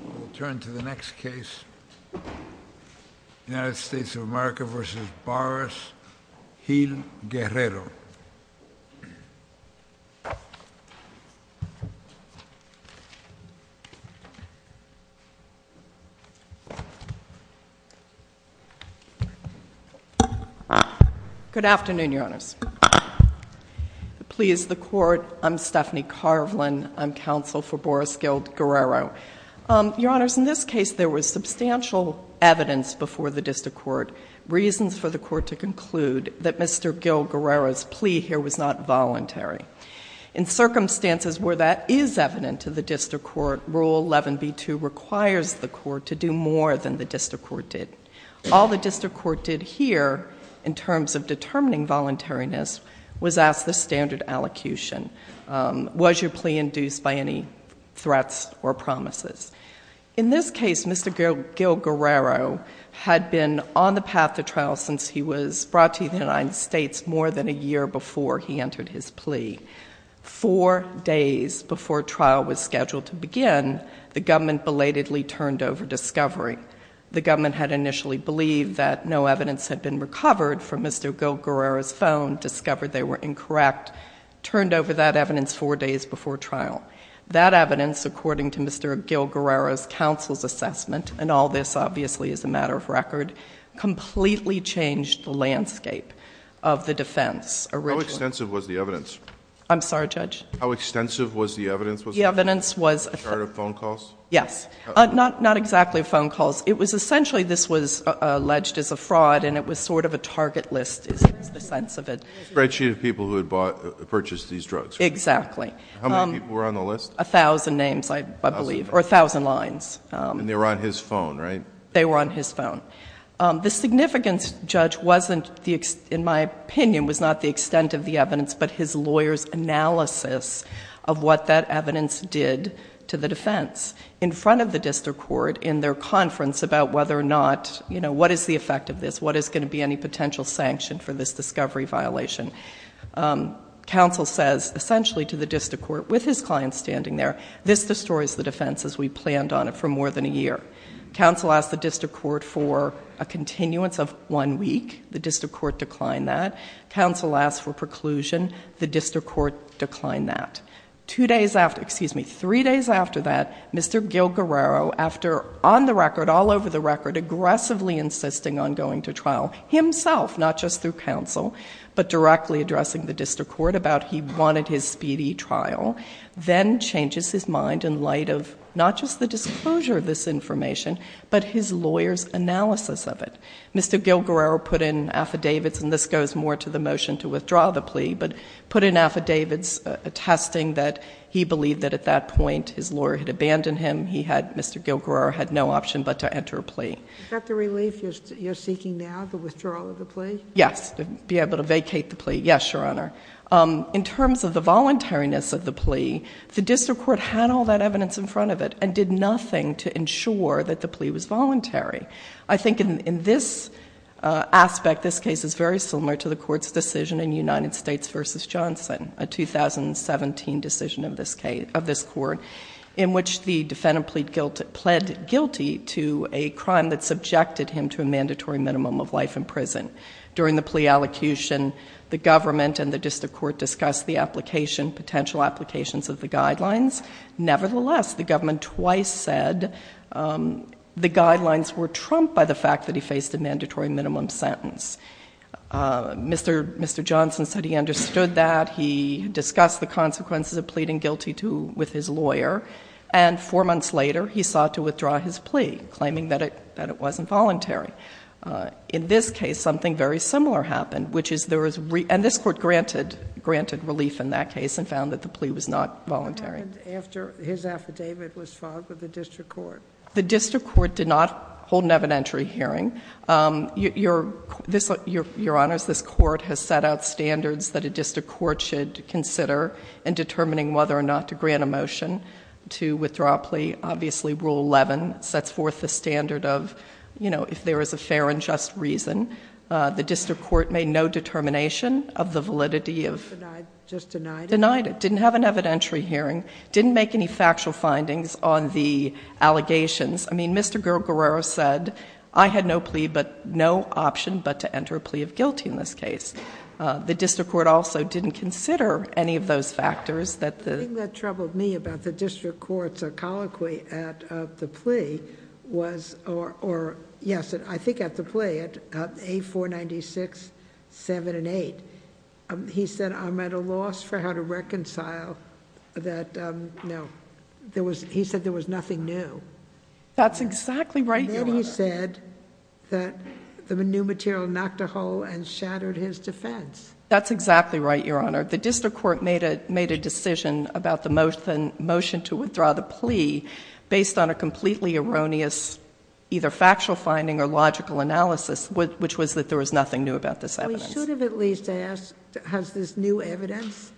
We'll turn to the next case, United States of America v. Boris Hill-Guerrero. Good afternoon, Your Honors. Please, the Court, I'm Stephanie Carvelin. I'm counsel for Boris Hill-Guerrero. Your Honors, in this case, there was substantial evidence before the Court's plea here was not voluntary. In circumstances where that is evident to the District Court, Rule 11b2 requires the Court to do more than the District Court did. All the District Court did here in terms of determining voluntariness was ask the standard allocution. Was your plea induced by any threats or promises? In this case, Mr. Gil-Guerrero had been on the path to trial since he was brought to the United States more than a year before he entered his plea. Four days before trial was scheduled to begin, the government belatedly turned over discovery. The government had initially believed that no evidence had been recovered from Mr. Gil-Guerrero's phone, discovered they were incorrect, turned over that evidence four days before trial. That evidence, according to Mr. Gil-Guerrero's counsel's assessment, and all this, obviously, is a matter of record, completely changed the landscape of the defense originally. How extensive was the evidence? I'm sorry, Judge? How extensive was the evidence? The evidence was... A chart of phone calls? Yes. Not exactly phone calls. It was essentially this was alleged as a fraud and it was sort of a target list is the sense of it. A spreadsheet of people who had purchased these drugs. Exactly. How many people were on the list? A thousand names, I believe, or a thousand lines. They were on his phone, right? They were on his phone. The significance, Judge, wasn't, in my opinion, was not the extent of the evidence but his lawyer's analysis of what that evidence did to the defense. In front of the district court in their conference about whether or not, you know, what is the effect of this? What is going to be any potential sanction for this discovery violation? Counsel says essentially to the district court, with his client standing there, this destroys the defense as we planned on it for more than a year. Counsel asked the district court for a continuance of one week. The district court declined that. Counsel asked for preclusion. The district court declined that. Two days after, excuse me, three days after that, Mr. Gil Guerrero, after on the record, all over the record, aggressively insisting on going to trial himself, not just through counsel, but directly addressing the district court about he wanted his speedy trial, then changes his mind in light of not just the disclosure of this information, but his lawyer's analysis of it. Mr. Gil Guerrero put in affidavits, and this goes more to the motion to withdraw the plea, but put in affidavits attesting that he believed that at that point his lawyer had abandoned him. He had, Mr. Gil Guerrero had no option but to enter a plea. Is that the relief you're seeking now, the withdrawal of the plea? Yes. To be able to vacate the plea. Yes, Your Honor. In terms of the voluntariness of the plea, the district court had all that evidence in front of it and did nothing to ensure that the plea was voluntary. I think in this aspect, this case is very similar to the court's decision in United States v. Johnson, a 2017 decision of this court, in which the defendant pled guilty to a crime that subjected him to a mandatory minimum of life in prison. During the plea allocution, the government and the district court discussed the application, potential applications of the guidelines. Nevertheless, the government twice said the guidelines were trumped by the fact that he faced a mandatory minimum sentence. Mr. Johnson said he understood that. He discussed the consequences of pleading guilty to, with his lawyer. And four months later, he sought to withdraw his plea, claiming that it wasn't voluntary. In this case, something very similar happened, which is there was re, and this court granted, granted relief in that case and found that the plea was not voluntary. What happened after his affidavit was filed with the district court? The district court did not hold an evidentiary hearing. Your, this, Your Honors, this court has set out standards that a district court should consider in determining whether or not to grant a motion to withdraw a plea. Obviously, Rule 11 sets forth the standard of, you know, if there is a fair and just reason. The district court made no determination of the validity of... Denied, just denied it? Denied it. Didn't have an evidentiary hearing. Didn't make any factual findings on the allegations. I mean, Mr. Guerrero said, I had no plea, but no option but to enter a plea of guilty in this case. The district court also didn't consider any of those factors that the... The thing that troubled me about the district court's colloquy at the plea was, or, yes, I think at the plea, at A496-7 and 8, he said, I'm at a loss for how to reconcile that... no. He said there was nothing new. That's exactly right, Your Honor. He said that the new material knocked a hole and shattered his defense. That's exactly right, Your Honor. The district court made a decision about the motion to withdraw the plea based on a completely erroneous either factual finding or logical analysis, which was that there was nothing new about this evidence. We should have at least asked, has this new evidence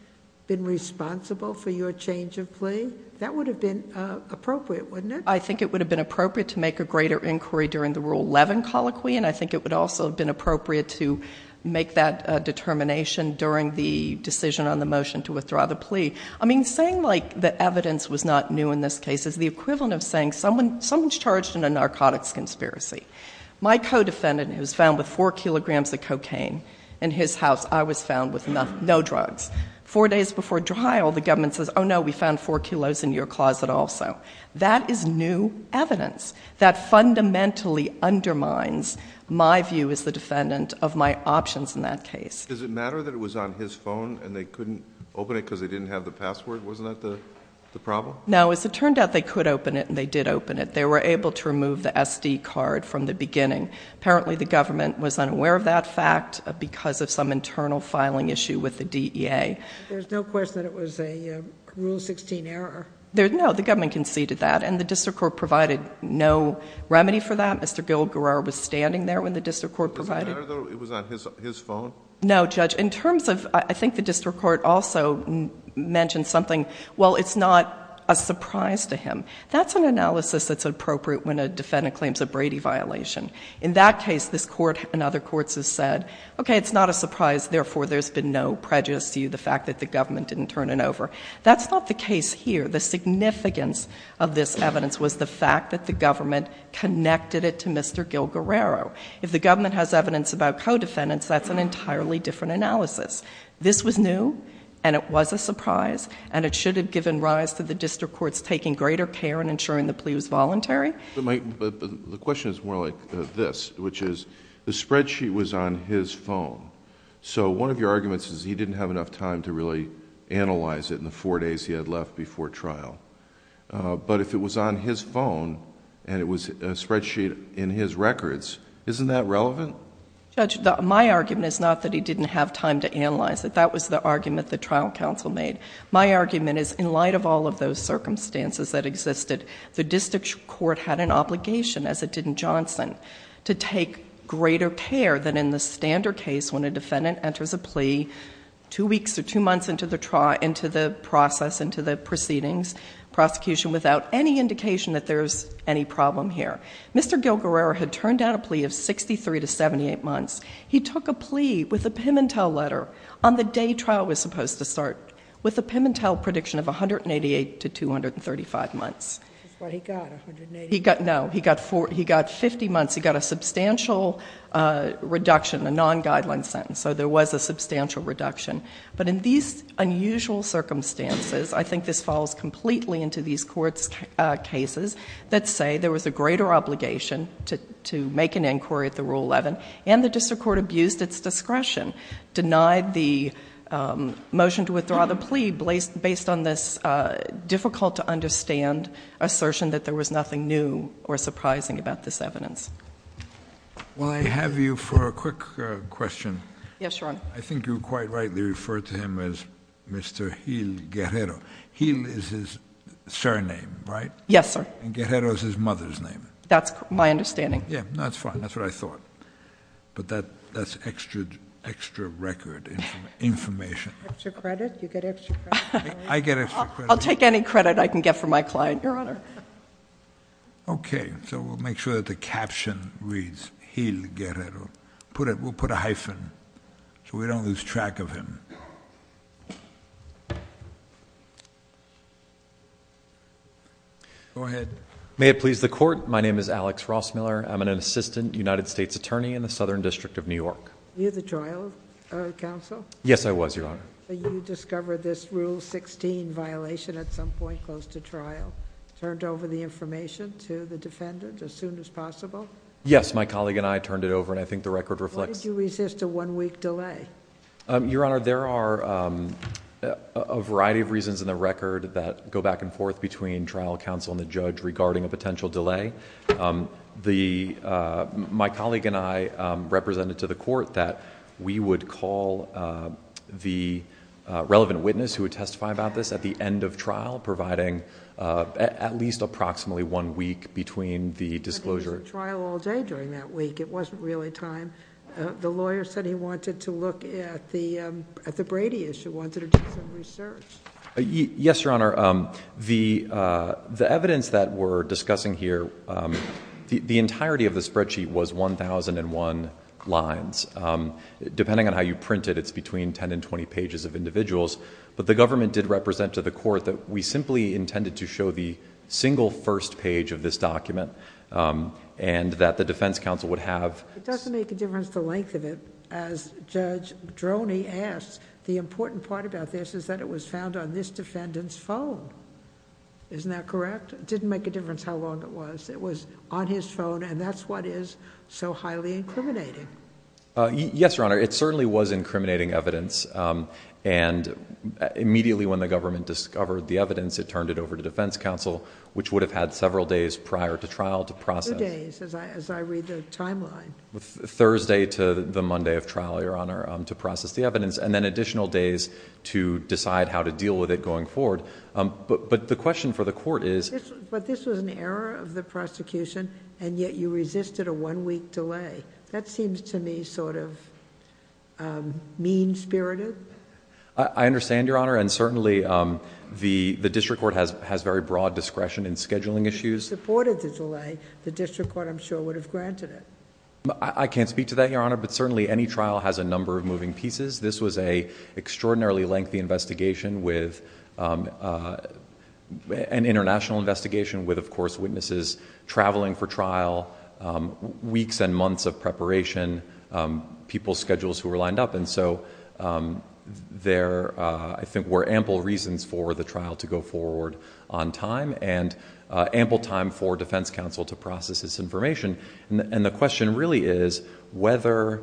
been responsible for your change of plea? That would have been appropriate, wouldn't it? I think it would have been appropriate to make a greater inquiry during the Rule 11 colloquy, and I think it would also have been appropriate to make that determination during the decision on the motion to withdraw the plea. I mean, saying, like, the evidence was not new in this case is the equivalent of saying someone's charged in a narcotics conspiracy. My co-defendant was found with four kilograms of cocaine in his house. I was found with no drugs. Four days before trial, the government says, oh, no, we found four kilos in your closet also. That is new evidence. That fundamentally undermines my view as the defendant of my options in that case. Does it matter that it was on his phone and they couldn't open it because they didn't have the password? Wasn't that the problem? No. As it turned out, they could open it and they did open it. They were able to remove the SD card from the beginning. Apparently, the government was unaware of that fact because of some internal filing issue with the DEA. There's no question that it was a Rule 16 error. No. The government conceded that, and the district court provided no remedy for that. Mr. Gil Guerrero was standing there when the district court provided— Does it matter, though, it was on his phone? No, Judge. In terms of—I think the district court also mentioned something. Well, it's not a surprise to him. That's an analysis that's appropriate when a defendant claims a Brady violation. In that case, this Court and other courts have said, okay, it's not a surprise, therefore, there's been no prejudice to you, the fact that the government didn't turn it over. That's not the case here. The significance of this evidence was the fact that the government connected it to Mr. Gil Guerrero. If the government has evidence about co-defendants, that's an entirely different analysis. This was new, and it was a surprise, and it should have given rise to the district courts taking greater care and ensuring the plea was voluntary. The question is more like this, which is, the spreadsheet was on his phone. One of your arguments is he didn't have enough time to really analyze it in the four days he had left before trial. If it was on his phone, and it was a spreadsheet in his records, isn't that relevant? Judge, my argument is not that he didn't have time to analyze it. That was the argument the trial counsel made. My argument is, in light of all of those circumstances that existed, the district court had an obligation, as it did in Johnson, to take greater care than in the standard case when a defendant enters a plea two weeks or two months into the process, into the proceedings, prosecution, without any indication that there's any problem here. Mr. Gil Guerrero had turned down a plea of 63 to 78 months. He took a plea with a Pim and Tell letter on the day trial was supposed to start, with a Pim and Tell prediction of This is what he got, 180 months. No, he got 50 months. He got a substantial reduction, a non-guideline sentence. So there was a substantial reduction. But in these unusual circumstances, I think this falls completely into these court's cases, that say there was a greater obligation to make an inquiry at the Rule 11, and the district court abused its discretion, denied the motion to withdraw the plea, based on this difficult-to-understand assertion that there was nothing new or surprising about this evidence. Will I have you for a quick question? Yes, Your Honor. I think you quite rightly referred to him as Mr. Gil Guerrero. Gil is his surname, right? Yes, sir. And Guerrero is his mother's name. That's my understanding. Yeah, that's fine. That's what I thought. But that's extra record information. Extra credit? You get extra credit? I get extra credit. I'll take any credit I can get for my client, Your Honor. Okay. So we'll make sure that the caption reads, Gil Guerrero. We'll put a hyphen, so we don't lose track of him. Go ahead. May it please the Court, my name is Alex Rossmiller. I'm an Assistant United States Attorney in the Southern District of New York. Were you the trial counsel? Yes, I was, Your Honor. You discovered this Rule 16 violation at some point close to trial, turned over the information to the defendant as soon as possible? Yes, my colleague and I turned it over, and I think the record reflects... Why did you resist a one-week delay? Your Honor, there are a variety of reasons in the record that go back and forth between trial counsel and the judge regarding a potential delay. My colleague and I represented to the relevant witness who would testify about this at the end of trial, providing at least approximately one week between the disclosure... But he was at trial all day during that week. It wasn't really time. The lawyer said he wanted to look at the Brady issue, wanted to do some research. Yes, Your Honor. The evidence that we're discussing here, the entirety of the spreadsheet was one thousand and one lines. Depending on how you print it, it's between ten and twenty pages of individuals, but the government did represent to the court that we simply intended to show the single first page of this document, and that the defense counsel would have... It doesn't make a difference the length of it. As Judge Droney asked, the important part about this is that it was found on this defendant's phone. Isn't that correct? It didn't make a difference how long it was. It was on his phone, and that's what is so highly incriminating. Yes, Your Honor. It certainly was incriminating evidence, and immediately when the government discovered the evidence, it turned it over to defense counsel, which would have had several days prior to trial to process... Two days, as I read the timeline. Thursday to the Monday of trial, Your Honor, to process the evidence, and then additional days to decide how to deal with it going forward. But the question for the court is... But this was an error of the prosecution, and yet you resisted a one-week delay. That seems to me sort of mean-spirited. I understand, Your Honor, and certainly the district court has very broad discretion in scheduling issues. If you supported the delay, the district court, I'm sure, would have granted it. I can't speak to that, Your Honor, but certainly any trial has a number of moving pieces. This was an extraordinarily lengthy investigation with... an international investigation with, of course, witnesses traveling for trial, weeks and months of preparation, people's schedules who were lined up. There, I think, were ample reasons for the trial to go forward on time, and ample time for defense counsel to process this information. The question really is whether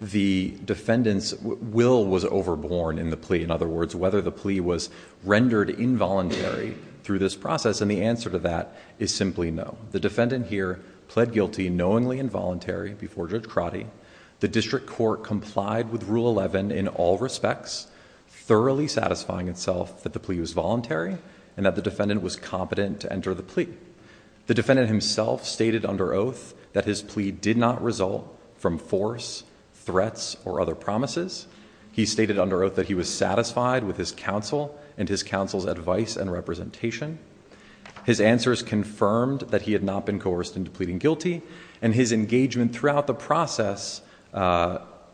the defendant's will was overborne in the plea. In other words, whether the plea was rendered involuntary through this process, and the answer to that is simply no. The defendant here pled guilty knowingly involuntary before Judge Crotty. The district court complied with Rule 11 in all respects, thoroughly satisfying itself that the plea was voluntary and that the defendant was competent to enter the plea. The defendant himself stated under oath that his plea did not result from force, threats or other promises. He stated under oath that he was satisfied with his counsel and his counsel's advice and representation. His answers confirmed that he had not been coerced into pleading guilty, and his engagement throughout the process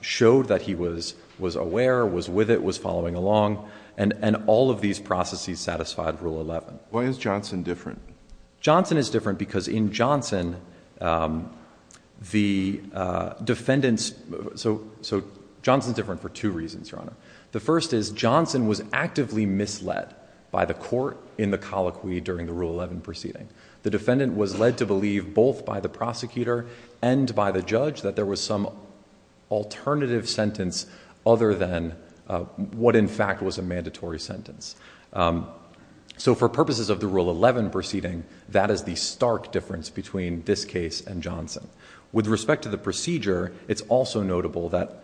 showed that he was aware, was with it, was following along, and all of these processes satisfied Rule 11. Why is Johnson different? Johnson is different because in Johnson, the defendant's... Johnson's different for two reasons, Your Honor. The first is Johnson was actively misled by the court in the colloquy during the Rule 11 proceeding. The defendant was led to believe both by the prosecutor and by the judge that there was some alternative sentence other than what in fact was a mandatory sentence. So for purposes of the Rule 11 proceeding, that is the stark difference between this case and Johnson. With respect to the procedure, it's also notable that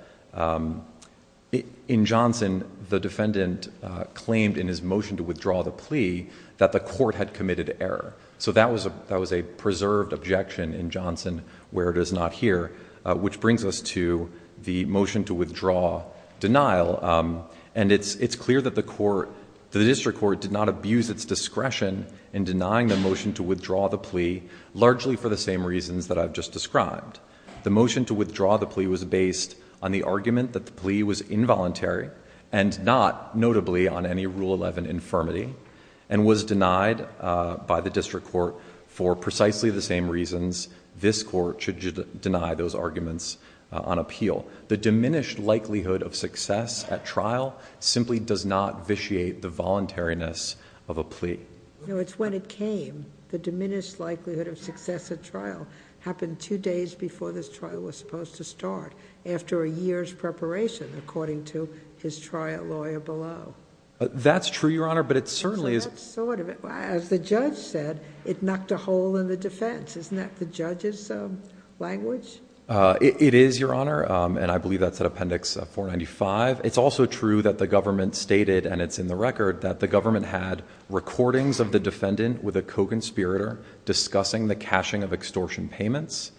in Johnson, the defendant claimed in his motion to withdraw the plea that the court had committed error. So that was a preserved objection in Johnson where it is not here, which brings us to the motion to withdraw denial. And it's clear that the court, the district court did not abuse its discretion in denying the motion to withdraw the plea, largely for the same reasons that I've just described. The motion to withdraw the plea was based on the argument that the plea was involuntary and not, notably, on any Rule 11 infirmity, and was denied by the district court for precisely the same reasons this court should deny those arguments on appeal. The diminished likelihood of success at trial simply does not vitiate the voluntariness of a plea. No, it's when it came. The diminished likelihood of success at trial happened two days before this trial was supposed to start, after a year's preparation, according to his trial lawyer below. That's true, Your Honor, but it certainly is... That's sort of it. As the judge said, it knocked a hole in the defense. Isn't that the judge's language? It is, Your Honor, and I believe that's at Appendix 495. It's also true that the government stated, and it's in the record, that the government had recordings of the defendant with a co-conspirator discussing the cashing of extortion payments,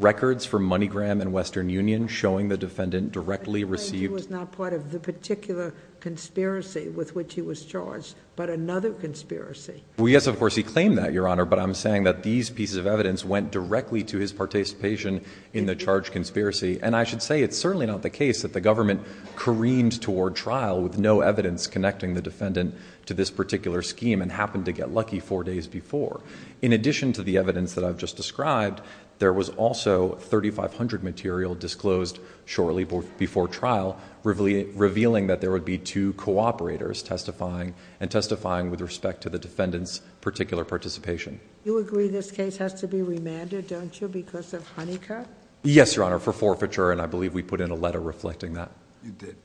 records from MoneyGram and Western Union showing the defendant directly received... He was not part of the particular conspiracy with which he was charged, but another conspiracy. Well, yes, of course, he claimed that, Your Honor, but I'm saying that these pieces of evidence went directly to his participation in the charged conspiracy, and I should say it's certainly not the case that the government careened toward trial with no evidence connecting the defendant to this particular scheme and happened to get lucky four days before. In addition to the evidence that I've just described, there was also 3,500 material disclosed shortly before trial, revealing that there would be two co-operators testifying and testifying with respect to the defendant's particular participation. You agree this case has to be remanded, don't you, because of Honeycutt? Yes, Your Honor, for forfeiture, and I believe we put in a letter reflecting that. You did.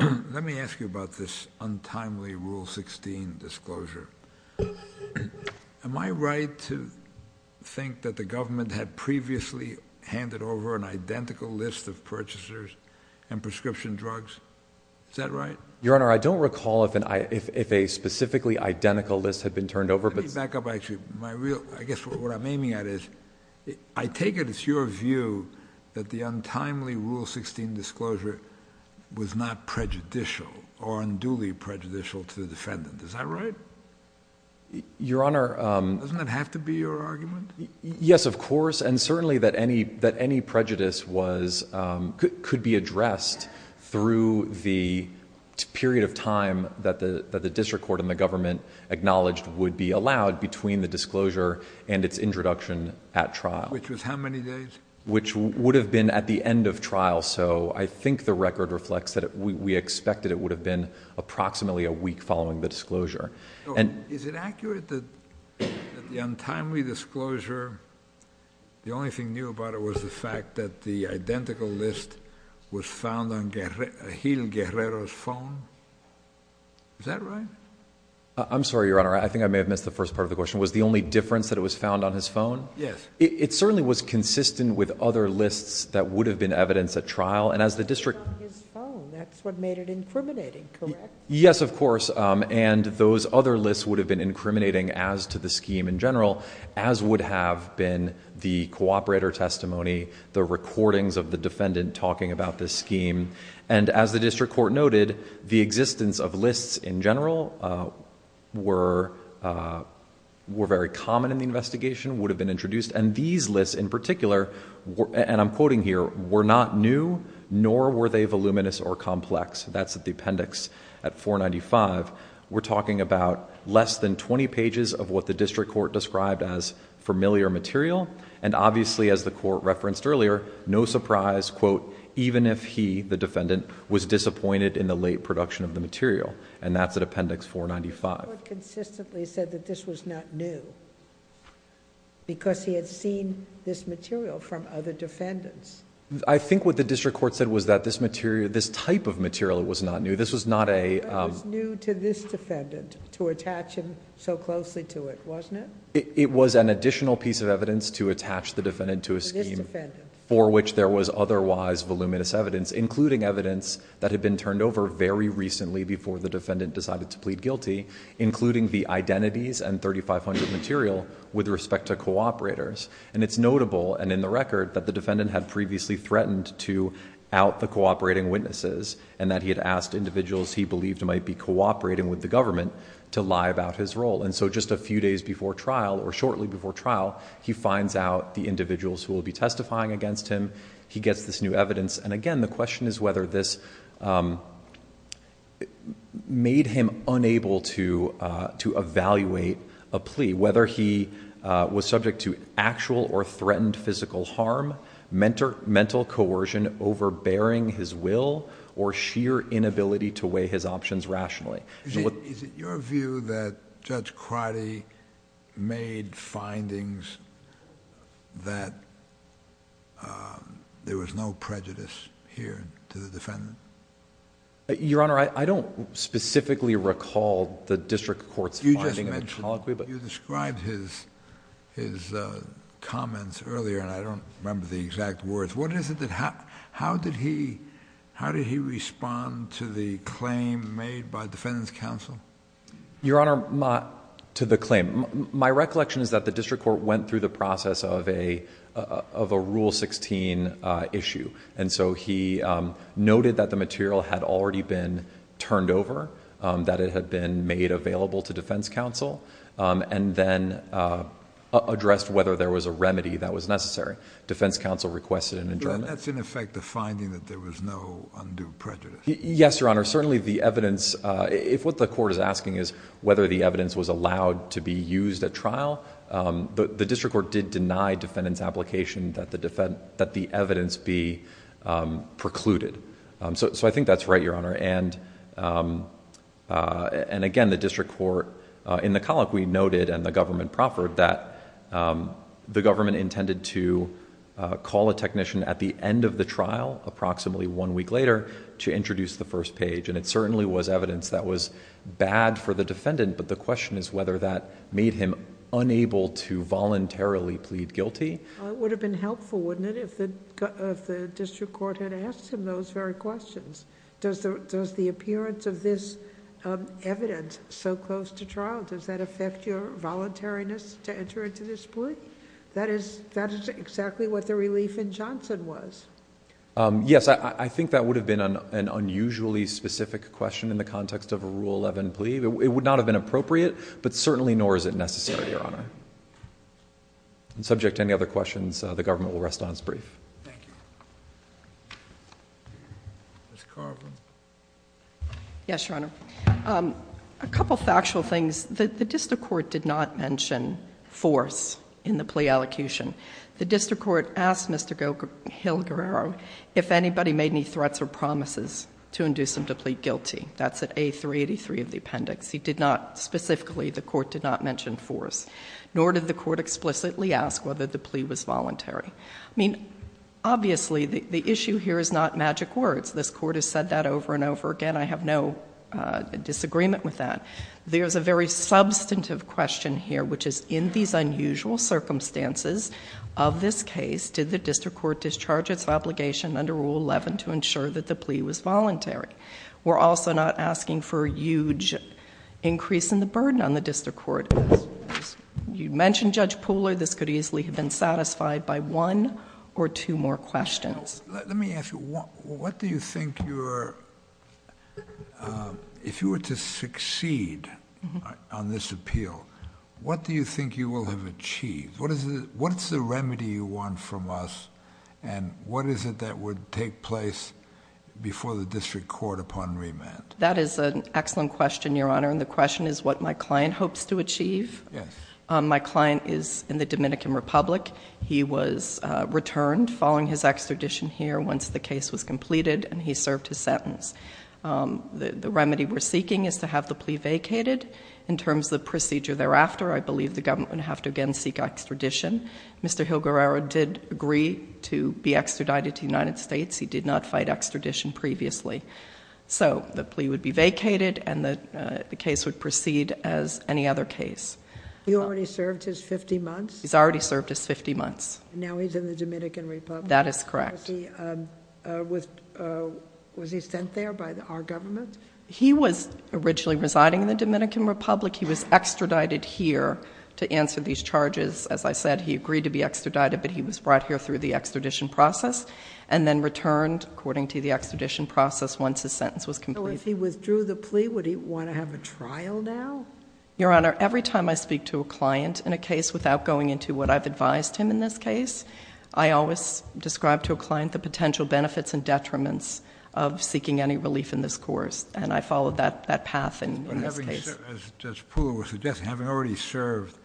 Let me ask you about this untimely Rule 16 disclosure. Am I right to think that the government had previously handed over an identical list of purchasers and prescription drugs? Is that right? Your Honor, I don't recall if a specifically identical list had been turned over, but... Let me back up, actually. My real... I guess what I'm aiming at is, I take it it's your view that the untimely Rule 16 disclosure was not prejudicial or unduly prejudicial to the defendant. Is that right? Your Honor... Doesn't that have to be your argument? Yes, of course, and certainly that any prejudice was... could be addressed through the period of time that the district court and the government acknowledged would be allowed between the disclosure and its introduction at trial. Which was how many days? Which would have been at the end of trial, so I think the record reflects that we expected it would have been approximately a week following the disclosure. Is it accurate that the untimely disclosure, the only thing new about it was the fact that the identical list was found on Gil Guerrero's phone? Is that right? I'm sorry, Your Honor. I think I may have missed the first part of the question. Was the only difference that it was found on his phone? Yes. It certainly was consistent with other lists that would have been evidenced at trial, and as the district... It was on his phone. That's what made it incriminating, correct? Yes, of course, and those other lists would have been incriminating as to the scheme in general, as would have been the cooperator testimony, the recordings of the defendant talking about this scheme, and as the district court noted, the existence of lists in general were very common in the investigation, would have been introduced, and these lists in particular, and I'm quoting here, were not new, nor were they voluminous or complex. That's at the appendix at 495. We're talking about less than twenty pages of what the district court described as familiar material, and obviously as the court referenced earlier, no surprise, even if he, the defendant, was disappointed in the late production of the material, and that's at appendix 495. The court consistently said that this was not new, because he had seen this material from other defendants. I think what the district court said was that this type of material was not new. This was not a... It was new to this defendant to attach him so closely to it, wasn't it? It was an additional piece of evidence to attach the defendant to a scheme... To this defendant.... for which there was otherwise voluminous evidence, including evidence that had been turned over very recently before the defendant decided to plead guilty, including the identities and 3,500 material with respect to cooperators, and it's notable, and in the record, that the defendant had previously threatened to out the cooperating witnesses, and that he had asked individuals he believed might be cooperating with the government to lie about his role, and so just a few days before trial, or shortly before trial, he finds out the individuals who will be testifying against him, he gets this new evidence, and again, the question is whether this made him unable to evaluate a plea, whether he was subject to actual or threatened physical harm, mental coercion overbearing his will, or sheer inability to weigh his options rationally. Is it your view that Judge Crotty made findings that there was no prejudice here to the defendant? Your Honor, I don't specifically recall the district court's finding... You just mentioned, you described his comments earlier, and I don't remember the exact words. What is it that... how did he respond to the claim made by defendant's counsel? Your Honor, to the claim, my recollection is that the district court went through the process of a Rule 16 issue, and so he noted that the material had already been turned over, that it had been made available to defense counsel, and then addressed whether there was a remedy that was necessary. Defense counsel requested an adjournment. That's, in effect, the finding that there was no undue prejudice? Yes, Your Honor. Certainly the evidence... if what the court is asking is whether the evidence was allowed to be used at trial, the district court did deny defendant's application that the evidence be precluded. I think that's right, Your Honor, and again, the district court... in the colloquy noted, and the government proffered, that the government intended to call a technician at the end of the trial, approximately one week later, to introduce the first page, and it certainly was evidence that was bad for the defendant, but the question is whether that made him unable to voluntarily plead guilty? Well, it would have been helpful, wouldn't it, if the district court had asked him those very questions? Does the appearance of this evidence so close to trial, does that affect your voluntariness to enter into this plea? That is exactly what the relief in Johnson was. Yes, I think that would have been an unusually specific question in the context of a Rule 11 plea. It would not have been appropriate, but certainly nor is it necessary, Your Honor. Subject to any other questions, the government will rest on its brief. Ms. Carver. Yes, Your Honor. A couple of factual things. The district court did not mention force in the plea allocution. The district court asked Mr. Hill-Guerrero if anybody made any threats or promises to induce him to plead guilty. That's at A383 of the appendix. He did not specifically, the court did not mention force, nor did the court explicitly ask whether the plea was voluntary. I mean, obviously, the issue here is not magic words. This court has said that over and over again. I have no disagreement with that. There's a very substantive question here, which is in these unusual circumstances of this case, did the district court discharge its obligation under Rule 11 to ensure that the plea was voluntary? We're also not asking for a huge increase in the burden on the district court. You mentioned Judge Pooler. This could easily have been satisfied by one or two more questions. Let me ask you, what do you think your... if you were to succeed on this appeal, what do you think you will have achieved? What's the remedy you want from us, and what is it that would take place before the district court upon remand? That is an excellent question, Your Honor, and the question is what my client hopes to achieve. My client is in the Dominican Republic. He was returned following his extradition here once the case was completed, and he served his sentence. The remedy we're seeking is to have the plea vacated. In terms of the procedure thereafter, I believe the government would have to again seek extradition. Mr. Hilguerrero did agree to be extradited to the United States. He did not fight extradition previously. So the plea would be vacated, and the case would proceed as any other case. He already served his fifty months? He's already served his fifty months. Now he's in the Dominican Republic? That is correct. Was he sent there by our government? He was originally residing in the Dominican Republic. He was extradited here to answer these charges. As I said, he agreed to be extradited, but he was brought here through the extradition process and then returned according to the extradition process once his sentence was completed. So if he withdrew the plea, would he want to have a trial now? Your Honor, every time I speak to a client in a case without going into what I've advised him in this case, I always describe to a client the potential benefits and detriments of seeking any relief in this course, and I follow that path in this case. As Judge Pula was suggesting, having already served,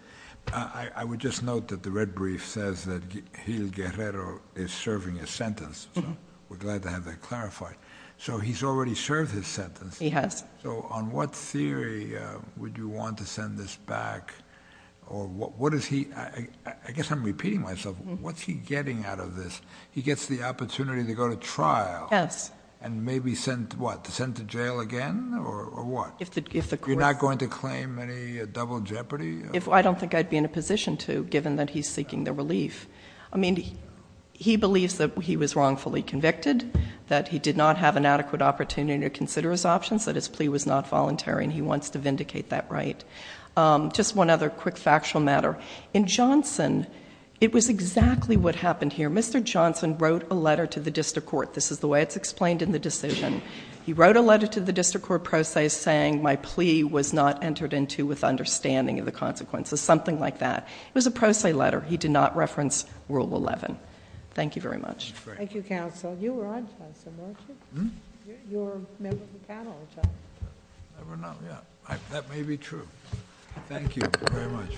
I would just note that the red brief says that Hilguerrero is serving his sentence, so we're glad to have that clarified. So he's already served his sentence? He has. Yes. So on what theory would you want to send this back, or what is he... I guess I'm repeating myself, what's he getting out of this? He gets the opportunity to go to trial and maybe sent, what, to send to jail again, or what? You're not going to claim any double jeopardy? I don't think I'd be in a position to, given that he's seeking the relief. He believes that he was wrongfully convicted, that he did not have an adequate opportunity to consider his options, that his plea was not voluntary, and he wants to vindicate that right. Just one other quick factual matter. In Johnson, it was exactly what happened here. Mr. Johnson wrote a letter to the district court. This is the way it's explained in the decision. He wrote a letter to the district court pro se saying, my plea was not entered into with understanding of the consequences. Something like that. It was a pro se letter. He did not reference Rule 11. Thank you very much. Thank you, counsel. You were on Johnson, weren't you? Hmm? You were a member of the panel, weren't you? I don't know. Yeah. That may be true. Thank you very much.